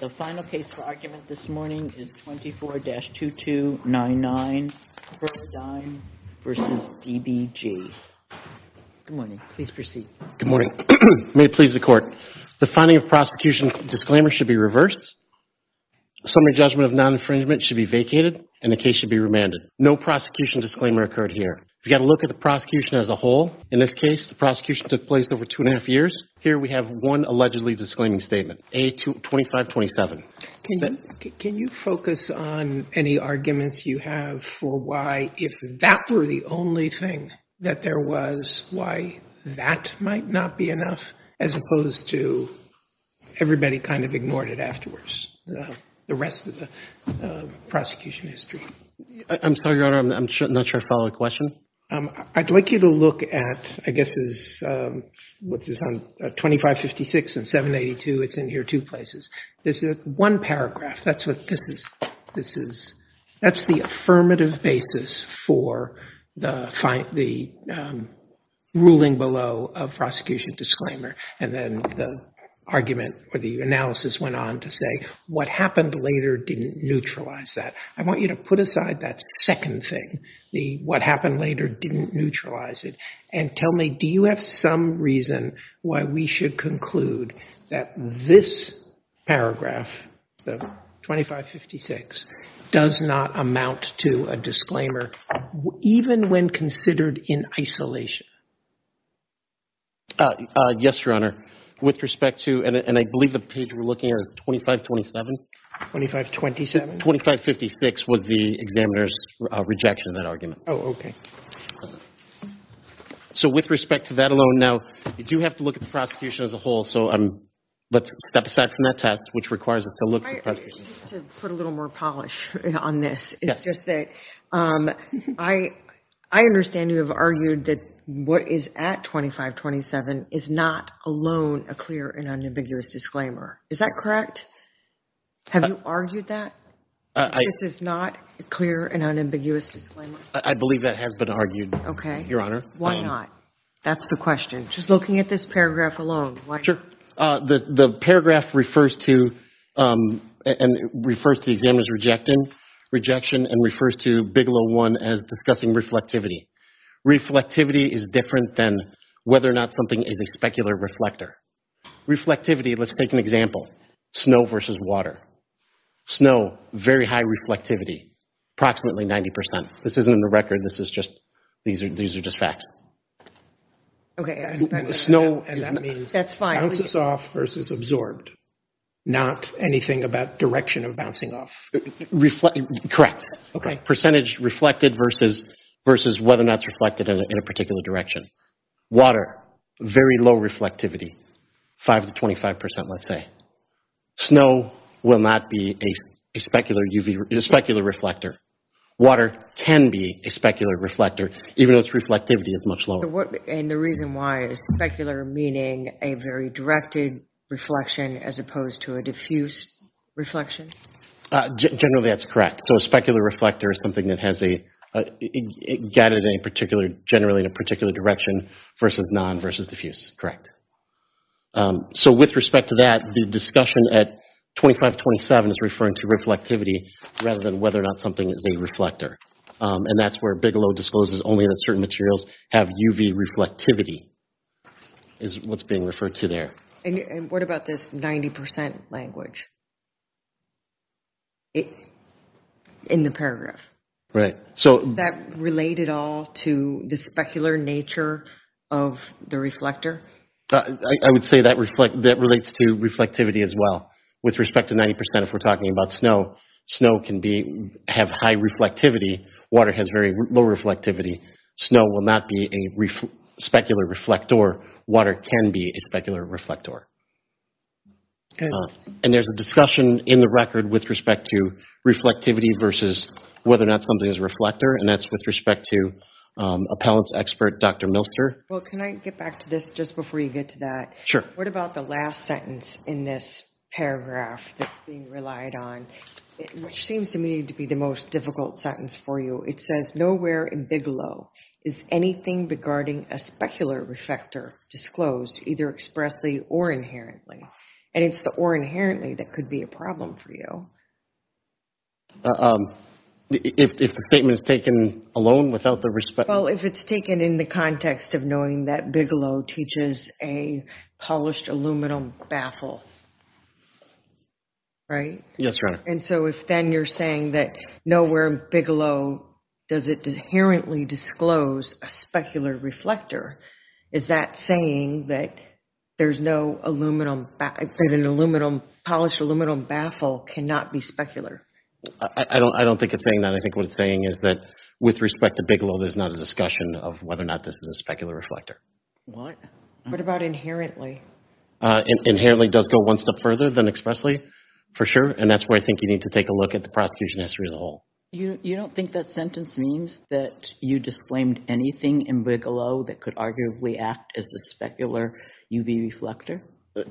The final case for argument this morning is 24-2299 Verdigm v. DBG. Good morning, please proceed. Good morning, may it please the court. The finding of prosecution disclaimer should be reversed. Summary judgment of non-infringement should be vacated and the case should be remanded. No prosecution disclaimer occurred here. If you got a look at the prosecution as a whole, in this case the prosecution took place over two and a half years. Here we have one allegedly disclaiming statement, 25-27. Can you focus on any arguments you have for why, if that were the only thing that there was, why that might not be enough, as opposed to everybody kind of ignored it afterwards, the rest of the prosecution history? I'm sorry, Your Honor, I'm not sure I follow the question. I'd like you to look at, I guess, what is on 25-56 and 7-82, it's in here two places. There's one paragraph, that's what this is, that's the affirmative basis for the ruling below of prosecution disclaimer and then the argument or the analysis went on to say what happened later didn't neutralize that. I want you to put aside that second thing, the what happened later didn't neutralize it, and tell me, do you have some reason why we should conclude that this paragraph, the 25-56, does not amount to a disclaimer even when considered in isolation? Yes, Your Honor, with respect to, and I believe the we're looking at is 25-27. 25-27? 25-56 was the examiner's rejection of that argument. Oh, okay. So with respect to that alone, now, you do have to look at the prosecution as a whole, so let's step aside from that test, which requires us to look at the prosecution. Just to put a little more polish on this, it's just that I understand you have argued that what is at 25-27 is not alone a clear and unambiguous disclaimer. Is that correct? Have you argued that? This is not a clear and unambiguous disclaimer. I believe that has been argued, Your Honor. Okay. Why not? That's the question. Just looking at this paragraph alone, why not? Sure. The paragraph refers to, and refers to the examiner's rejection and refers to Bigelow 1 as discussing reflectivity. Reflectivity is different than whether or not something is a specular reflector. Reflectivity, let's take an example. Snow versus water. Snow, very high reflectivity, approximately 90%. This isn't in the record, this is just, these are just facts. Okay. Snow bounces off versus absorbed, not anything about direction of bouncing off. Correct. Okay. Percentage reflected versus whether or not it's reflected in a particular direction. Water, very low reflectivity, 5-25%, let's say. Snow will not be a specular reflector. Water can be a specular reflector, even though its reflectivity is much lower. And the reason why, is specular meaning a very directed reflection as opposed to a diffuse reflection? Generally, that's correct. So a specular reflector is something that has a, gathered in a particular, generally in a particular direction, versus non, versus diffuse. Correct. So with respect to that, the discussion at 25-27 is referring to reflectivity rather than whether or not something is a reflector. And that's where Bigelow discloses only that certain materials have UV reflectivity, is what's being referred to there. And what about this 90% language? In the specular nature of the reflector? I would say that reflects, that relates to reflectivity as well. With respect to 90%, if we're talking about snow, snow can be, have high reflectivity. Water has very low reflectivity. Snow will not be a specular reflector. Water can be a specular reflector. And there's a discussion in the record with respect to reflectivity versus whether or not something is a reflector. And that's with respect to appellant's expert, Dr. Milster. Well, can I get back to this just before you get to that? Sure. What about the last sentence in this paragraph that's being relied on, which seems to me to be the most difficult sentence for you. It says, nowhere in Bigelow is anything regarding a specular reflector disclosed, either expressly or inherently. And it's the or inherently that could be a problem for you. If the statement is taken alone without the respect? Well, if it's taken in the context of knowing that Bigelow teaches a polished aluminum baffle, right? Yes, right. And so if then you're saying that nowhere in Bigelow does it inherently disclose a specular reflector, is that saying that there's no aluminum, that an aluminum, polished aluminum baffle cannot be specular? I don't, I don't think it's saying that. I think what it's saying is that with respect to Bigelow, there's not a discussion of whether or not this is a specular reflector. What? What about inherently? Inherently does go one step further than expressly, for sure. And that's where I think you need to take a look at the prosecution history as a whole. Have you disclaimed anything in Bigelow that could arguably act as the specular UV reflector?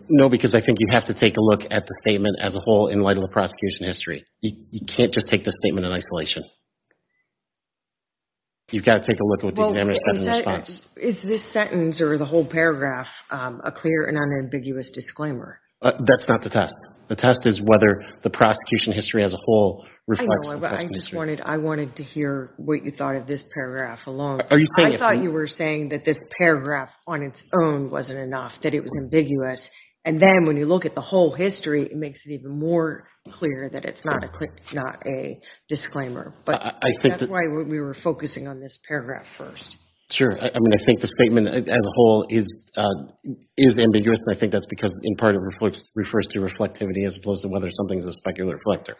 No, because I think you have to take a look at the statement as a whole in light of the prosecution history. You can't just take the statement in isolation. You've got to take a look at what the examiner said in response. Is this sentence or the whole paragraph a clear and unambiguous disclaimer? That's not the test. The test is whether the prosecution history as a whole reflects the question. I know, but I just wanted, I wanted to hear what you thought of this paragraph alone. I thought you were saying that this paragraph on its own wasn't enough, that it was ambiguous. And then when you look at the whole history, it makes it even more clear that it's not a disclaimer. But I think that's why we were focusing on this paragraph first. Sure. I mean, I think the statement as a whole is ambiguous, and I think that's because in part it refers to reflectivity as opposed to whether something is a specular reflector.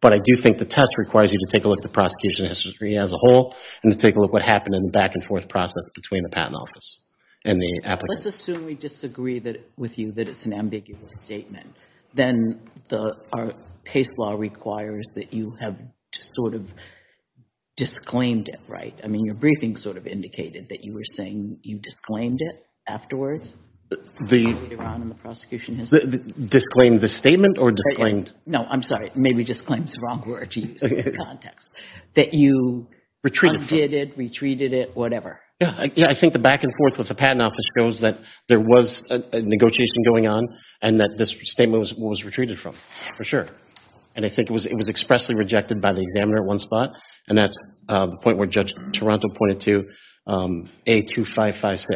But I do think the test requires you to take a look at the prosecution history as a whole and to take a look at what happened in the back-and-forth process between the patent office and the applicant. Let's assume we disagree with you that it's an ambiguous statement. Then our case law requires that you have just sort of disclaimed it, right? I mean, your briefing sort of indicated that you were saying you disclaimed it afterwards. Disclaimed the statement or disclaimed... No, I'm sorry. Maybe disclaim is the wrong word to use in this context. That you undid it, retreated it, whatever. Yeah, I think the back-and-forth with the patent office shows that there was a negotiation going on and that this statement was retreated from, for sure. And I think it was expressly rejected by the examiner at one spot, and that's the point where Judge Toronto pointed to A2556.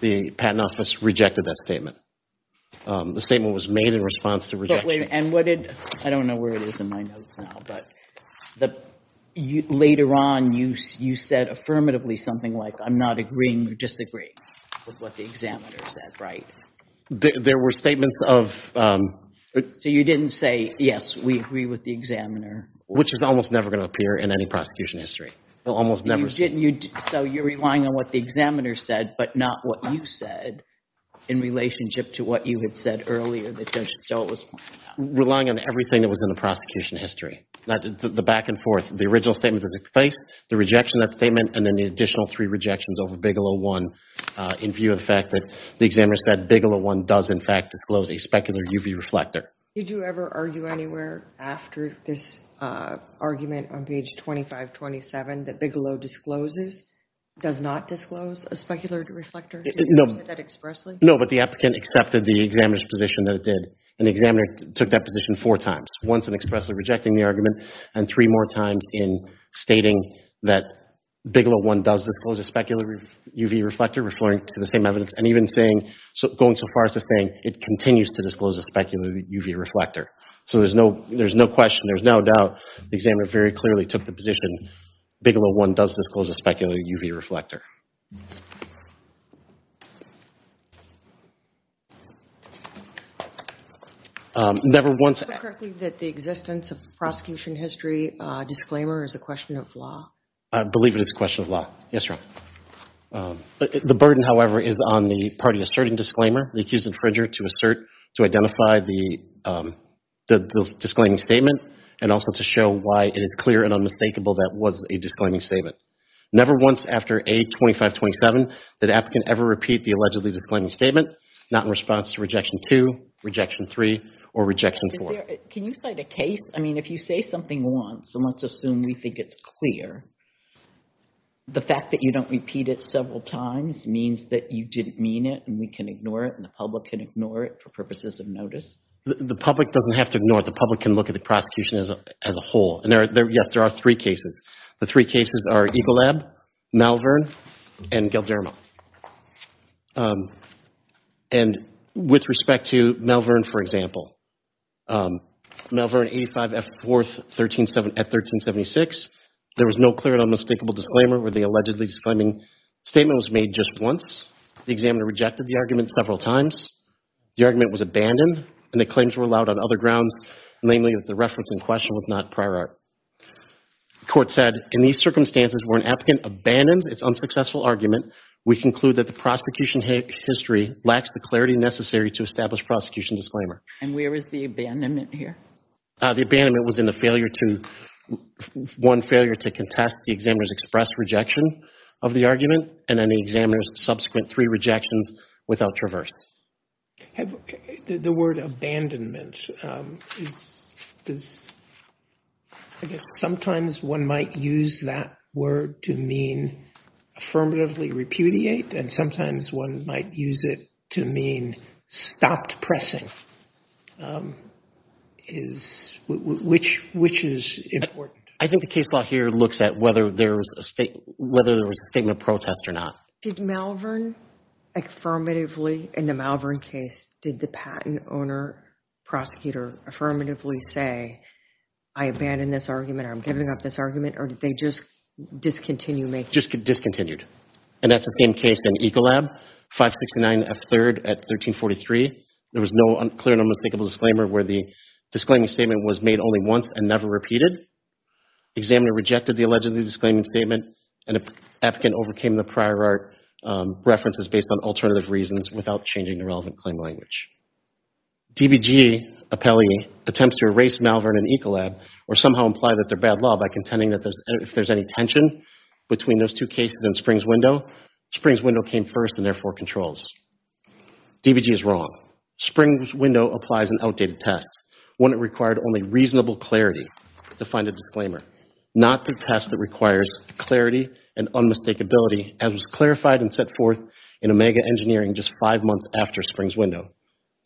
The patent office rejected that statement. The statement was made in response to rejection. I don't know where it is in my notes now, but later on you said affirmatively something like, I'm not agreeing or disagreeing with what the examiner said, right? There were statements of... So you didn't say, yes, we agree with the examiner. Which is almost never going to appear in any prosecution history. So you're relying on what the examiner said, but not what you said in relationship to what you had said earlier that Judge Estella was pointing to. Relying on everything that was in the prosecution history. The back-and-forth. The original statement of the case, the rejection of that statement, and then the additional three rejections over Bigelow I in view of the fact that the examiner said Bigelow I does in fact disclose a specular UV reflector. Did you ever argue anywhere after this argument on page 2527 that Bigelow discloses, does not disclose a specular reflector? No, but the applicant accepted the examiner's position that it did. And the examiner took that position four times. Once in expressly rejecting the argument, and three more times in stating that Bigelow I does disclose a specular UV reflector, referring to the same evidence, and even saying, going so far as to saying it continues to disclose a specular UV reflector. So there's no question, there's no doubt, the examiner very clearly took the position Bigelow I does disclose a specular UV reflector. Never once... Is it correct that the existence of the prosecution history disclaimer is a question of law? I believe it is a question of law. Yes, Your Honor. The burden, however, is on the party asserting disclaimer, the accused infringer to assert, to identify the disclaiming statement, and also to show why it is clear and unmistakable that it was a disclaiming statement. Never once after A2527 did the applicant ever repeat the allegedly disclaiming statement, not in response to Rejection 2, Rejection 3, or Rejection 4. Can you cite a case? I mean, if you say something once, and let's assume we think it's clear, the fact that you don't repeat it several times means that you didn't mean it, and we can ignore it, and the public can ignore it for purposes of notice? The public doesn't have to ignore it. The public can look at the prosecution as a whole. Yes, there are three cases. The three cases are Eagle Lab, Malvern, and Gildermo. And with respect to Malvern, for example, Malvern A5F4 at 1376, there was no clear and unmistakable disclaimer where the allegedly disclaiming statement was made just once. The examiner rejected the argument several times. The argument was abandoned, and the reference in question was not prior art. The court said, in these circumstances, where an applicant abandons its unsuccessful argument, we conclude that the prosecution history lacks the clarity necessary to establish prosecution disclaimer. And where is the abandonment here? The abandonment was in the failure to, one, failure to contest the examiner's express rejection of the argument, and then the examiner's subsequent three rejections without traverse. Have, the word abandonment is, does, I guess sometimes one might use that word to mean affirmatively repudiate, and sometimes one might use it to mean stopped pressing, is, which, which is important. I think the case law here looks at whether there was a state, whether there was a statement of protest or not. Did Malvern, affirmatively, in the Malvern case, did the patent owner, prosecutor, affirmatively say, I abandoned this argument, or I'm giving up this argument, or did they just discontinue making? Just discontinued. And that's the same case in Ecolab, 569 F3rd at 1343. There was no clear and unmistakable disclaimer where the disclaiming statement was made only once and never repeated. Examiner rejected the allegedly disclaiming statement, and the applicant overcame the prior art references based on alternative reasons without changing the relevant claim language. DBG, appellee, attempts to erase Malvern and Ecolab or somehow imply that they're bad law by contending that if there's any tension between those two cases and Springs-Window, Springs-Window came first and therefore controls. DBG is wrong. Springs-Window applies an outdated test, one that required only reasonable clarity to find a disclaimer, not the test that requires clarity and unmistakability, as was clarified and set forth in Omega Engineering just five months after Springs-Window,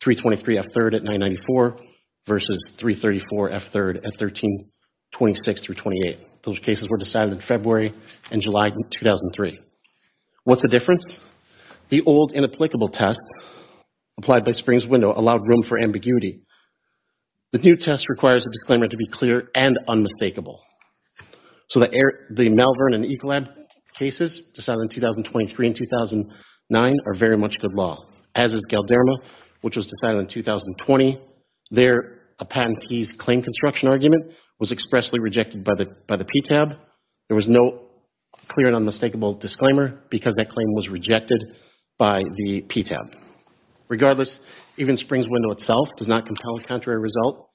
323 F3rd at 994 versus 334 F3rd at 1326 through 28. Those cases were decided in February and July 2003. What's the difference? The old inapplicable test applied by Springs-Window allowed room for ambiguity. The new test requires a disclaimer to be clear and unmistakable. So, the Malvern and Ecolab cases decided in 2023 and 2009 are very much good law, as is Galderma, which was decided in 2020. There, a patentee's claim construction argument was expressly rejected by the PTAB. There was no clear and unmistakable disclaimer because that claim was rejected by the PTAB. Regardless, even Springs-Window itself does not compel a contrary result.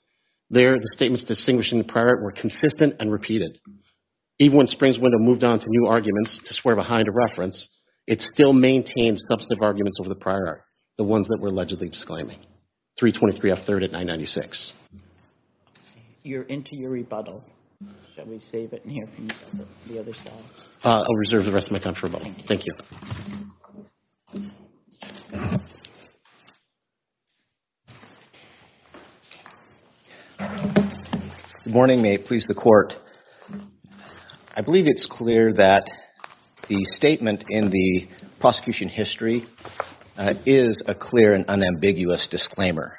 There, the statements distinguishing the prior were consistent and repeated. Even when Springs-Window moved on to new arguments to swear behind a reference, it still maintained substantive arguments over the prior, the ones that were allegedly disclaiming, 323 F3rd at 996. You're into your rebuttal. Shall we save it in here for the other side? I'll reserve the rest of my time for rebuttal. Thank you. Good morning. May it please the court. I believe it's clear that the statement in the prosecution history is a clear and unambiguous disclaimer.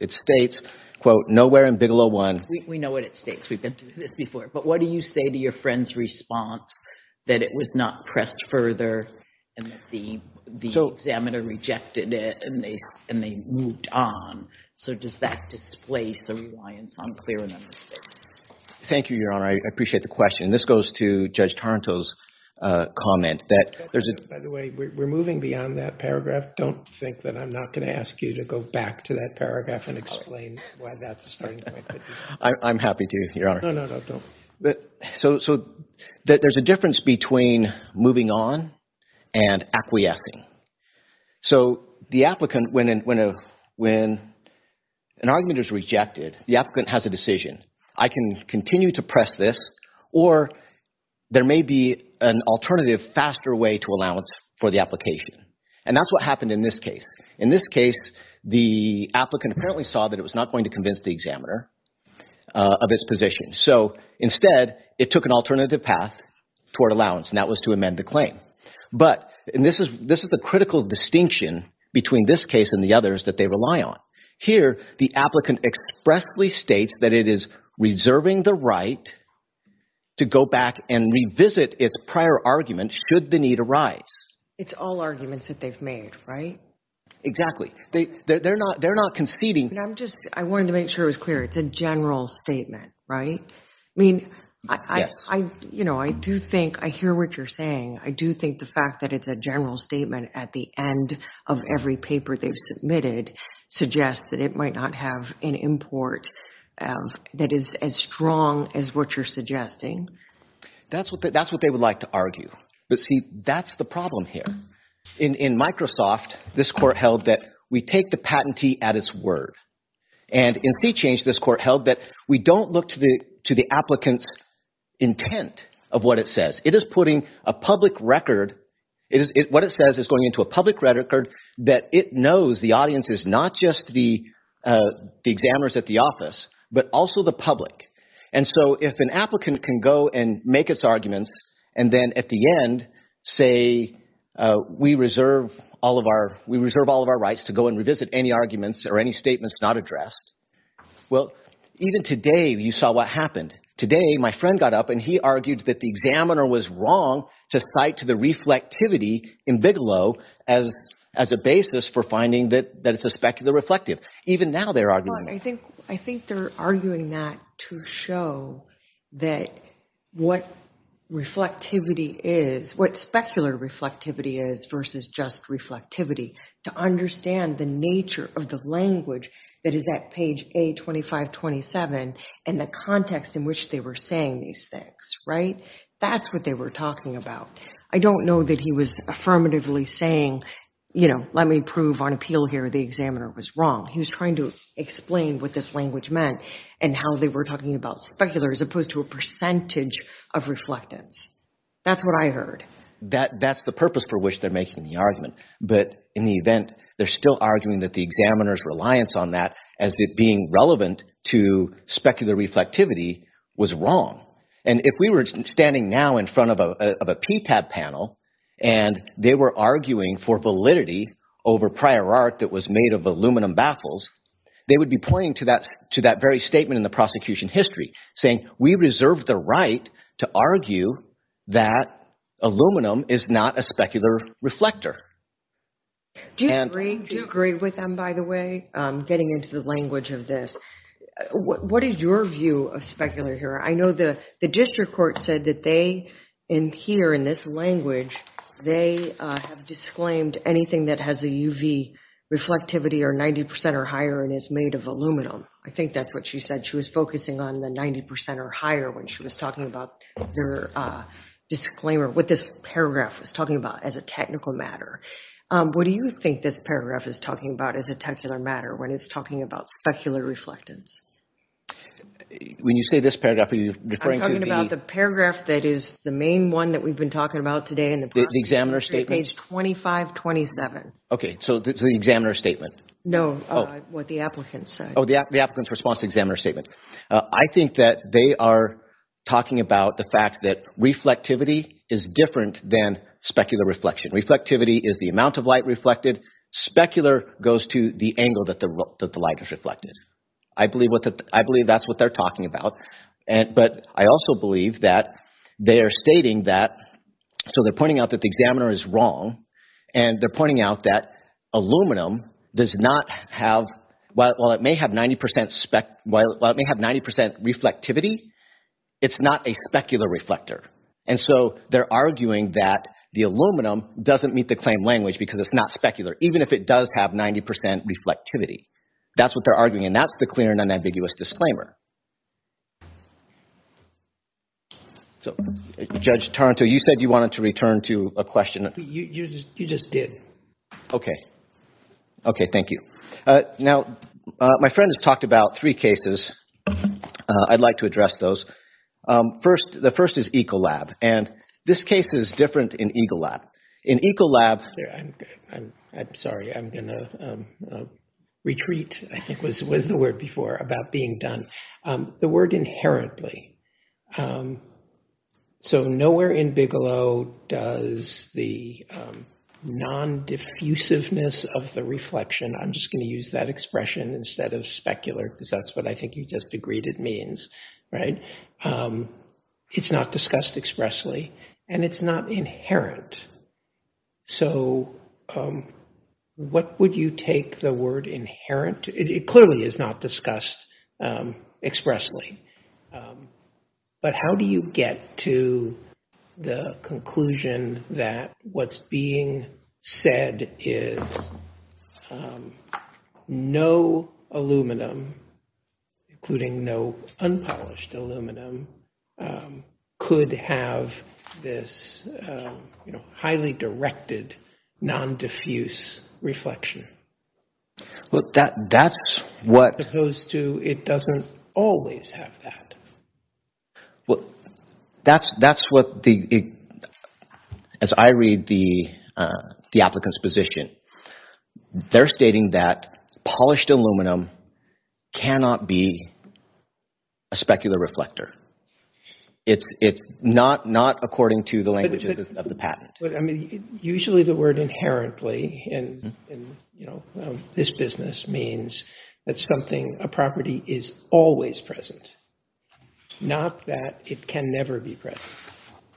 It states, quote, nowhere in Bigelow 1. We know what it states. We've been through this before. But what do you say to your friend's response that it was not pressed further and that the examiner rejected it and they moved on? So does that displace a reliance on clear and unambiguous statement? Thank you, Your Honor. I appreciate the question. And this goes to Judge Taranto's comment that there's a- By the way, we're moving beyond that paragraph. Don't think that I'm not going to ask you to go back to that paragraph and explain why that's a starting point. I'm happy to, Your Honor. No, no, no, don't. So there's a difference between moving on and acquiescing. So the applicant, when an argument is rejected, the applicant has a decision. I can continue to press this or there may be an alternative, faster way to allowance for the application. And that's what happened in this case. In this case, the applicant apparently saw that it was not going to convince the examiner of its position. So instead, it took an alternative path toward allowance and that was to amend the claim. But, and this is the critical distinction between this case and the others that they rely on. Here, the applicant expressly states that it is reserving the right to go back and revisit its prior argument should the need arise. It's all arguments that they've made, right? Exactly. They're not conceding. And I'm just, I wanted to make sure it was clear. It's a general statement, right? I mean, I do think, I hear what you're saying. I do think the fact that it's a general statement at the end of every paper they've submitted suggests that it might not have an import that is as strong as what you're suggesting. That's what they would like to argue. But see, that's the problem here. In Microsoft, this court held that we take the patentee at its word. And in CCHANGE, this court held that we don't look to the applicant's intent of what it says. It is putting a public record, what it says is going into a public record that it knows the audience is not just the examiners at the office, but also the public. And so if an applicant can go and make its arguments and then at the end say, we reserve all of our rights to go and revisit any arguments or any statements not addressed. Well, even today, you saw what happened. Today, my friend got up and he argued that the examiner was wrong to cite to the reflectivity in Bigelow as a basis for finding that it's a specular reflective. Even now they're arguing. I think they're arguing that to show that what reflectivity is, what specular reflectivity is versus just reflectivity, to understand the nature of the language that is that page A2527 and the context in which they were saying these things, right? That's what they were talking about. I don't know that he was affirmatively saying, let me prove on appeal here the examiner was wrong. He was trying to explain what this language meant and how they were talking about specular as opposed to a percentage of reflectance. That's what I heard. That's the purpose for which they're making the argument. But in the event, they're still arguing that the examiner's reliance on that as being relevant to specular reflectivity was wrong. And if we were standing now in front of a PTAB panel and they were arguing for validity over prior art that was made of aluminum baffles, they would be pointing to that very statement in the prosecution history, saying we reserve the right to argue that aluminum is not a specular reflector. Do you agree with them, by the way, getting into the language of this? What is your view of specular here? The district court said that here in this language, they have disclaimed anything that has a UV reflectivity or 90% or higher and is made of aluminum. I think that's what she said. She was focusing on the 90% or higher when she was talking about their disclaimer, what this paragraph was talking about as a technical matter. What do you think this paragraph is talking about as a technical matter when it's talking about specular reflectance? I'm talking about the paragraph that is the main one that we've been talking about today. The examiner's statement? Page 2527. Okay, so the examiner's statement. No, what the applicant said. Oh, the applicant's response to the examiner's statement. I think that they are talking about the fact that reflectivity is different than specular reflection. Reflectivity is the amount of light reflected. Specular goes to the angle that the light is reflected. I believe that's what they're talking about, but I also believe that they are stating that, so they're pointing out that the examiner is wrong and they're pointing out that aluminum does not have, while it may have 90% reflectivity, it's not a specular reflector. And so they're arguing that the aluminum doesn't meet the claim language because it's not specular, even if it does have 90% reflectivity. That's what they're arguing, and that's the clear and unambiguous disclaimer. So, Judge Taranto, you said you wanted to return to a question. You just did. Okay. Okay, thank you. Now, my friend has talked about three cases. I'd like to address those. First, the first is Ecolab, and this case is different in Ecolab. In Ecolab... I'm sorry, I'm going to retreat, I think was the word before, about being done. The word inherently. So, nowhere in Bigelow does the non-diffusiveness of the reflection, I'm just going to use that expression instead of specular, because that's what I think you just agreed it means, right? It's not discussed expressly, and it's not inherent. So, what would you take the word inherent? It clearly is not discussed expressly, but how do you get to the conclusion that what's being said is no aluminum, including no unpolished aluminum, could have this highly directed non-diffuse reflection? Well, that's what... As opposed to, it doesn't always have that. Well, that's what, as I read the applicant's position, they're stating that polished aluminum cannot be a specular reflector. It's not according to the language of the patent. I mean, usually the word inherently in this business means that something, a property is always present, not that it can never be present.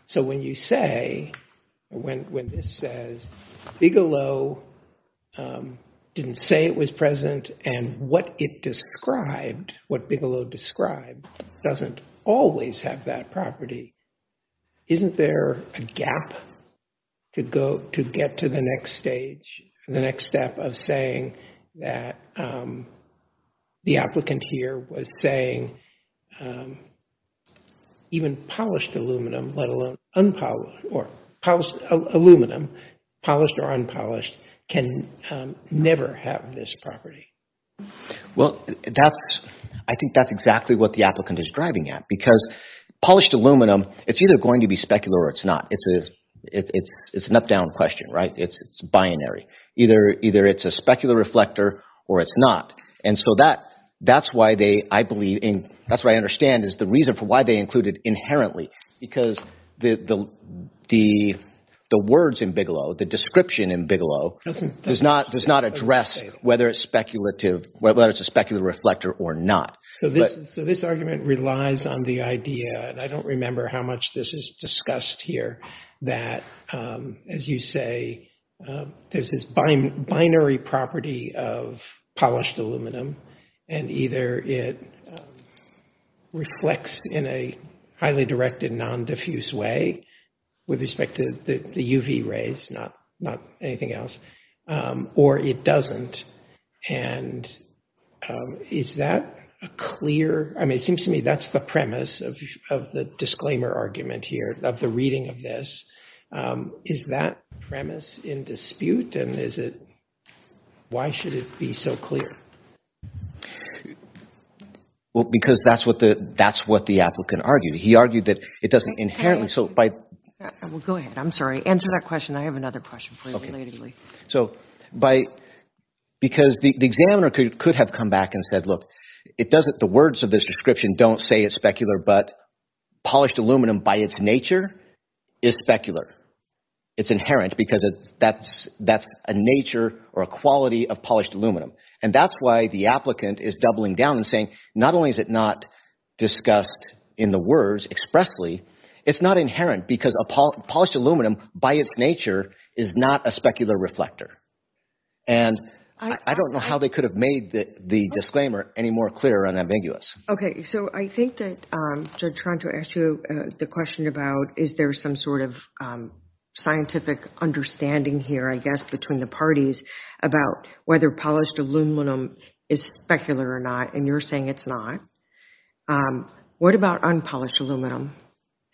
So, when you say, when this says Bigelow didn't say it was present, and what it described, what Bigelow described, doesn't always have that property, isn't there a gap to get to the next stage, the next step of saying that the applicant here was saying even polished aluminum, let alone unpolished, or polished aluminum, polished or unpolished, can never have this property? Well, I think that's exactly what the applicant is driving at, because polished aluminum, it's either going to be specular or it's not. It's an up-down question, right? It's binary. Either it's a specular reflector or it's not. And so that's why they, I believe, and that's what I understand, is the reason for why they include it inherently, because the words in Bigelow, the description in Bigelow, does not address whether it's a specular reflector or not. So, this argument relies on the idea, and I don't remember how much this is discussed here, that, as you say, there's this binary property of polished aluminum, and either it reflects in a highly directed non-diffuse way with respect to the UV rays, not anything else, or it doesn't. And is that a clear... I mean, it seems to me that's the premise of the disclaimer argument here, of the reading of this. Is that premise in dispute? And is it... Why should it be so clear? Well, because that's what the applicant argued. He argued that it doesn't inherently... So, by... Well, go ahead. I'm sorry. Answer that question. I have another question for you, relatedly. So, by... Because the examiner could have come back and said, look, it doesn't... The words of this description don't say it's specular, but polished aluminum, by its nature, is specular. It's inherent, because that's a nature or a quality of polished aluminum. And that's why the applicant is doubling down and saying, not only is it not discussed in the words, expressly, it's not inherent, because polished aluminum, by its nature, is not a specular reflector. And I don't know how they could have made the disclaimer any more clear and ambiguous. Okay. So, I think that, to try to answer the question about, is there some sort of scientific understanding here, I guess, between the parties about whether polished aluminum is specular or not? And you're saying it's not. What about unpolished aluminum?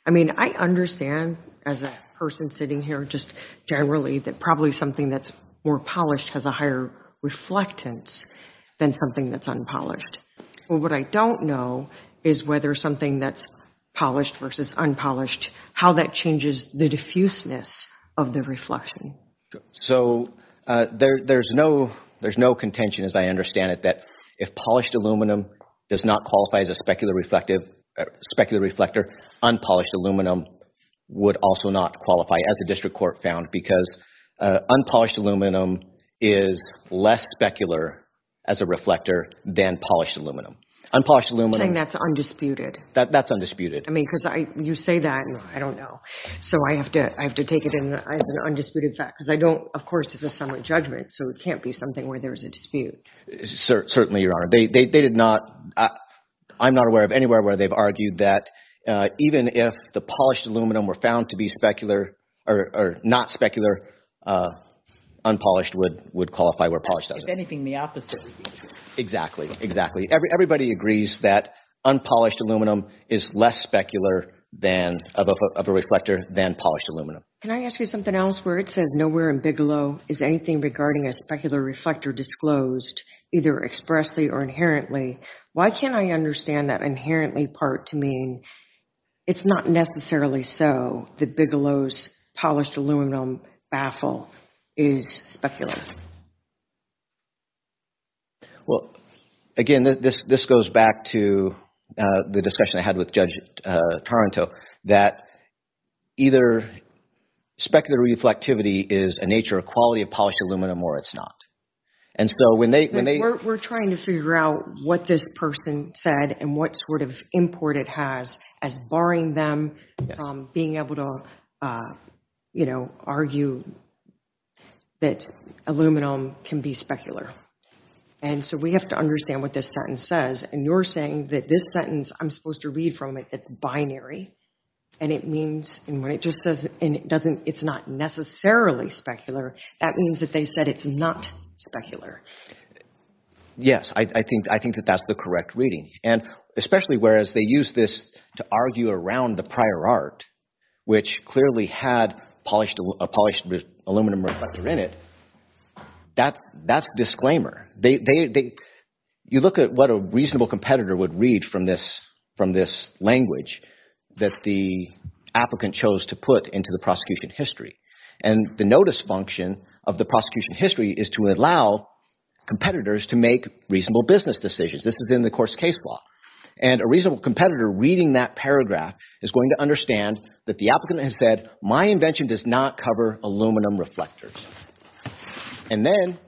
I mean, I understand, as a person sitting here, just generally, that probably something that's more polished has a higher reflectance than something that's unpolished. Well, what I don't know is whether something that's polished versus unpolished, how that changes the diffuseness of the reflection. So, there's no contention, as I understand it, that if polished aluminum does not qualify as a specular reflector, unpolished aluminum would also not qualify. As the district court found, because unpolished aluminum is less specular as a reflector than polished aluminum. Unpolished aluminum— Saying that's undisputed. That's undisputed. I mean, because you say that, and I don't know. So, I have to take it as an undisputed fact. Because I don't—of course, it's a summit judgment, so it can't be something where there's a dispute. Certainly, Your Honor. I'm not aware of anywhere where they've argued that even if the polished aluminum were found to be specular, or not specular, unpolished would qualify where polished doesn't. If anything, the opposite would be true. Exactly, exactly. Everybody agrees that unpolished aluminum is less specular of a reflector than polished aluminum. Can I ask you something else? Where it says nowhere in Bigelow is anything regarding a specular reflector disclosed, either expressly or inherently, why can't I understand that inherently part to mean it's not necessarily so that Bigelow's polished aluminum baffle is specular? Well, again, this goes back to the discussion I had with Judge Taranto, that either specular reflectivity is a nature or quality of polished aluminum or it's not. And so, when they— We're trying to figure out what this person said and what sort of import it has as barring them from being able to, you know, argue that aluminum can be specular. And so, we have to understand what this sentence says. And you're saying that this sentence, I'm supposed to read from it, it's binary. And it means— And when it just says— And it doesn't— It's not necessarily specular. That means that they said it's not specular. Yes, I think that that's the correct reading. And especially whereas they use this to argue around the prior art, which clearly had a polished aluminum reflector in it, that's disclaimer. You look at what a reasonable competitor would read from this language that the applicant chose to put into the prosecution history. And the notice function of the prosecution history is to allow competitors to make reasonable business decisions. This is in the course case law. And a reasonable competitor reading that paragraph is going to understand that the applicant has said, my invention does not cover aluminum reflectors. And then,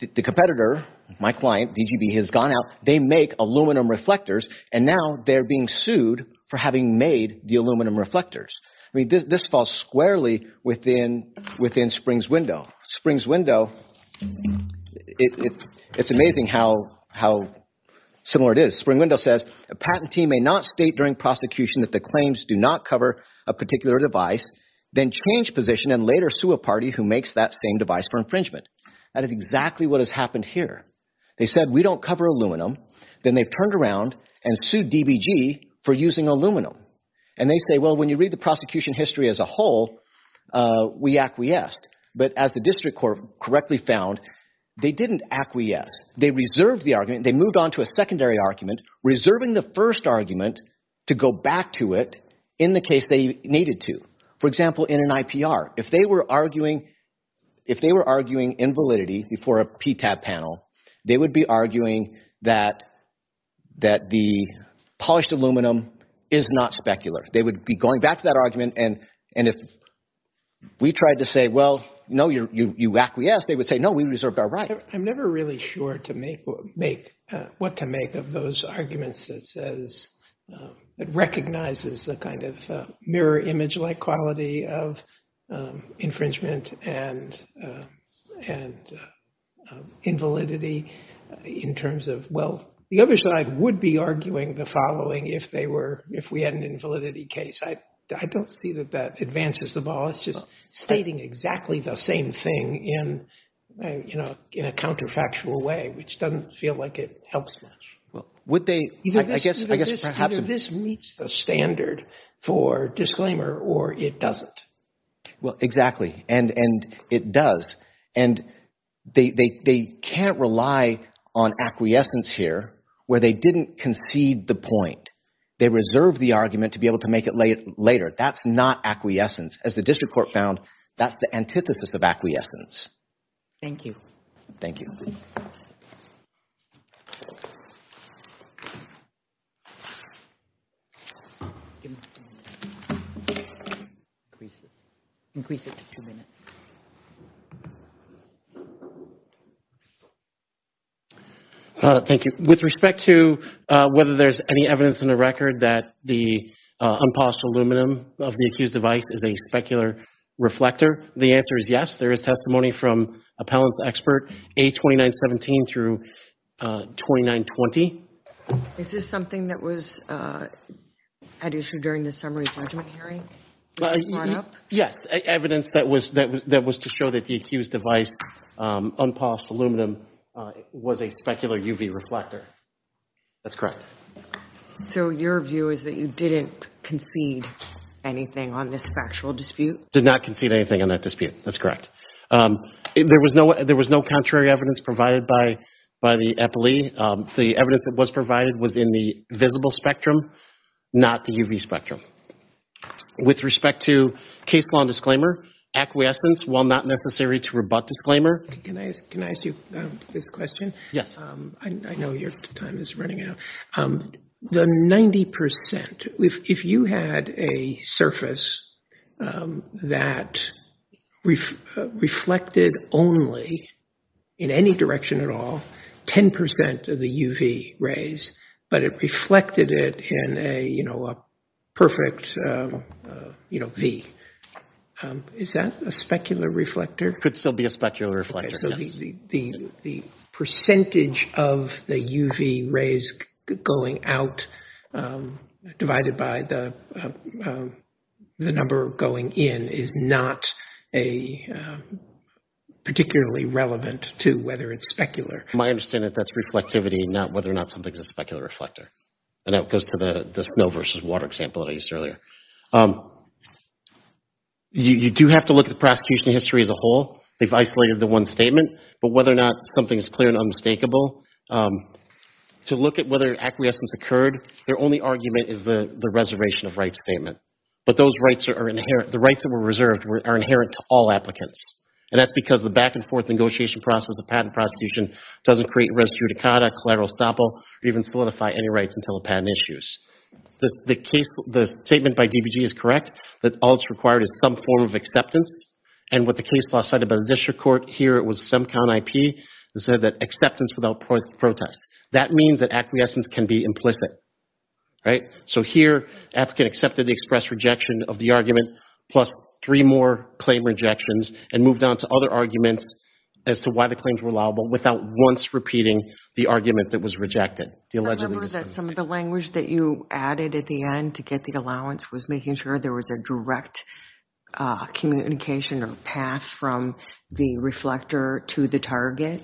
the competitor, my client, DGB, has gone out, they make aluminum reflectors, and now they're being sued for having made the aluminum reflectors. I mean, this falls squarely within Spring's window. Spring's window, it's amazing how similar it is. Spring window says, a patentee may not state during prosecution that the claims do not cover a particular device, then change position and later sue a party who makes that same device for infringement. That is exactly what has happened here. They said, we don't cover aluminum. Then they've turned around and sued DBG for using aluminum. And they say, well, when you read the prosecution history as a whole, we acquiesced. But as the district court correctly found, they didn't acquiesce. They reserved the argument. They moved on to a secondary argument, reserving the first argument to go back to it in the case they needed to. For example, in an IPR, if they were arguing invalidity before a PTAB panel, they would be arguing that the polished aluminum is not specular. They would be going back to that argument. And if we tried to say, well, no, you acquiesced, they would say, no, we reserved our right. I'm never really sure what to make of those arguments that says, that recognizes the kind of mirror image-like quality of infringement and invalidity in terms of, well, the other side would be arguing the following if we had an invalidity case. I don't see that that advances the ball. It's just stating exactly the same thing in a counterfactual way, which doesn't feel like it helps much. Either this meets the standard for disclaimer or it doesn't. Well, exactly. And it does. And they can't rely on acquiescence here where they didn't concede the point. They reserved the argument to be able to make it later. That's not acquiescence. As the district court found, that's the antithesis of acquiescence. Thank you. Thank you. Thank you. With respect to whether there's any evidence in the record that the unpolished aluminum of the accused device is a specular reflector, the answer is yes. There is testimony from appellant's expert, A2917 through 2920. Is this something that was at issue during the summary judgment hearing? Yes, evidence that was to show that the accused device, unpolished aluminum, was a specular UV reflector. That's correct. So your view is that you didn't concede anything on this factual dispute? Did not concede anything on that dispute. That's correct. There was no contrary evidence provided by the appellee. The evidence that was provided was in the visible spectrum, not the UV spectrum. With respect to case law and disclaimer, acquiescence, while not necessary to rebut disclaimer? Can I ask you this question? Yes. I know your time is running out. The 90%, if you had a surface that reflected only, in any direction at all, 10% of the UV rays, but it reflected it in a perfect V. Is that a specular reflector? Could still be a specular reflector. So the percentage of the UV rays going out divided by the number going in is not particularly relevant to whether it's specular. My understanding is that's reflectivity, not whether or not something's a specular reflector. And that goes to the snow versus water example that I used earlier. You do have to look at the prosecution history as a whole. They've isolated the one statement. But whether or not something is clear and unmistakable, to look at whether acquiescence occurred, their only argument is the reservation of rights statement. But the rights that were reserved are inherent to all applicants. And that's because the back and forth negotiation process of patent prosecution doesn't create res judicata, collateral estoppel, or even solidify any rights until a patent issues. The case, the statement by DBG is correct, that all that's required is some form of acceptance. And what the case law cited by the district court here, it was some kind of IP, that said that acceptance without protest. That means that acquiescence can be implicit. Right? So here, applicant accepted the express rejection of the argument, plus three more claim rejections, and moved on to other arguments as to why the claims were allowable without once repeating the argument that was rejected. I remember that some of the language that you added at the end to get the allowance was making sure there was a direct communication or path from the reflector to the target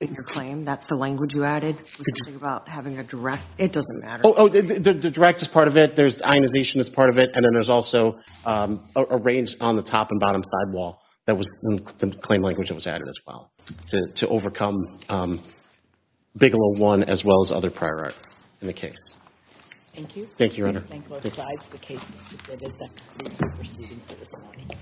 in your claim. That's the language you added, which I think about having a direct... It doesn't matter. Oh, the direct is part of it. There's ionization as part of it. And then there's also a range on the top and bottom sidewall that was the claim language that was added as well to overcome Bigelow 1, as well as other prior art in the case. Thank you. Thank you, Your Honor. I thank both sides of the case for submitting their testimony.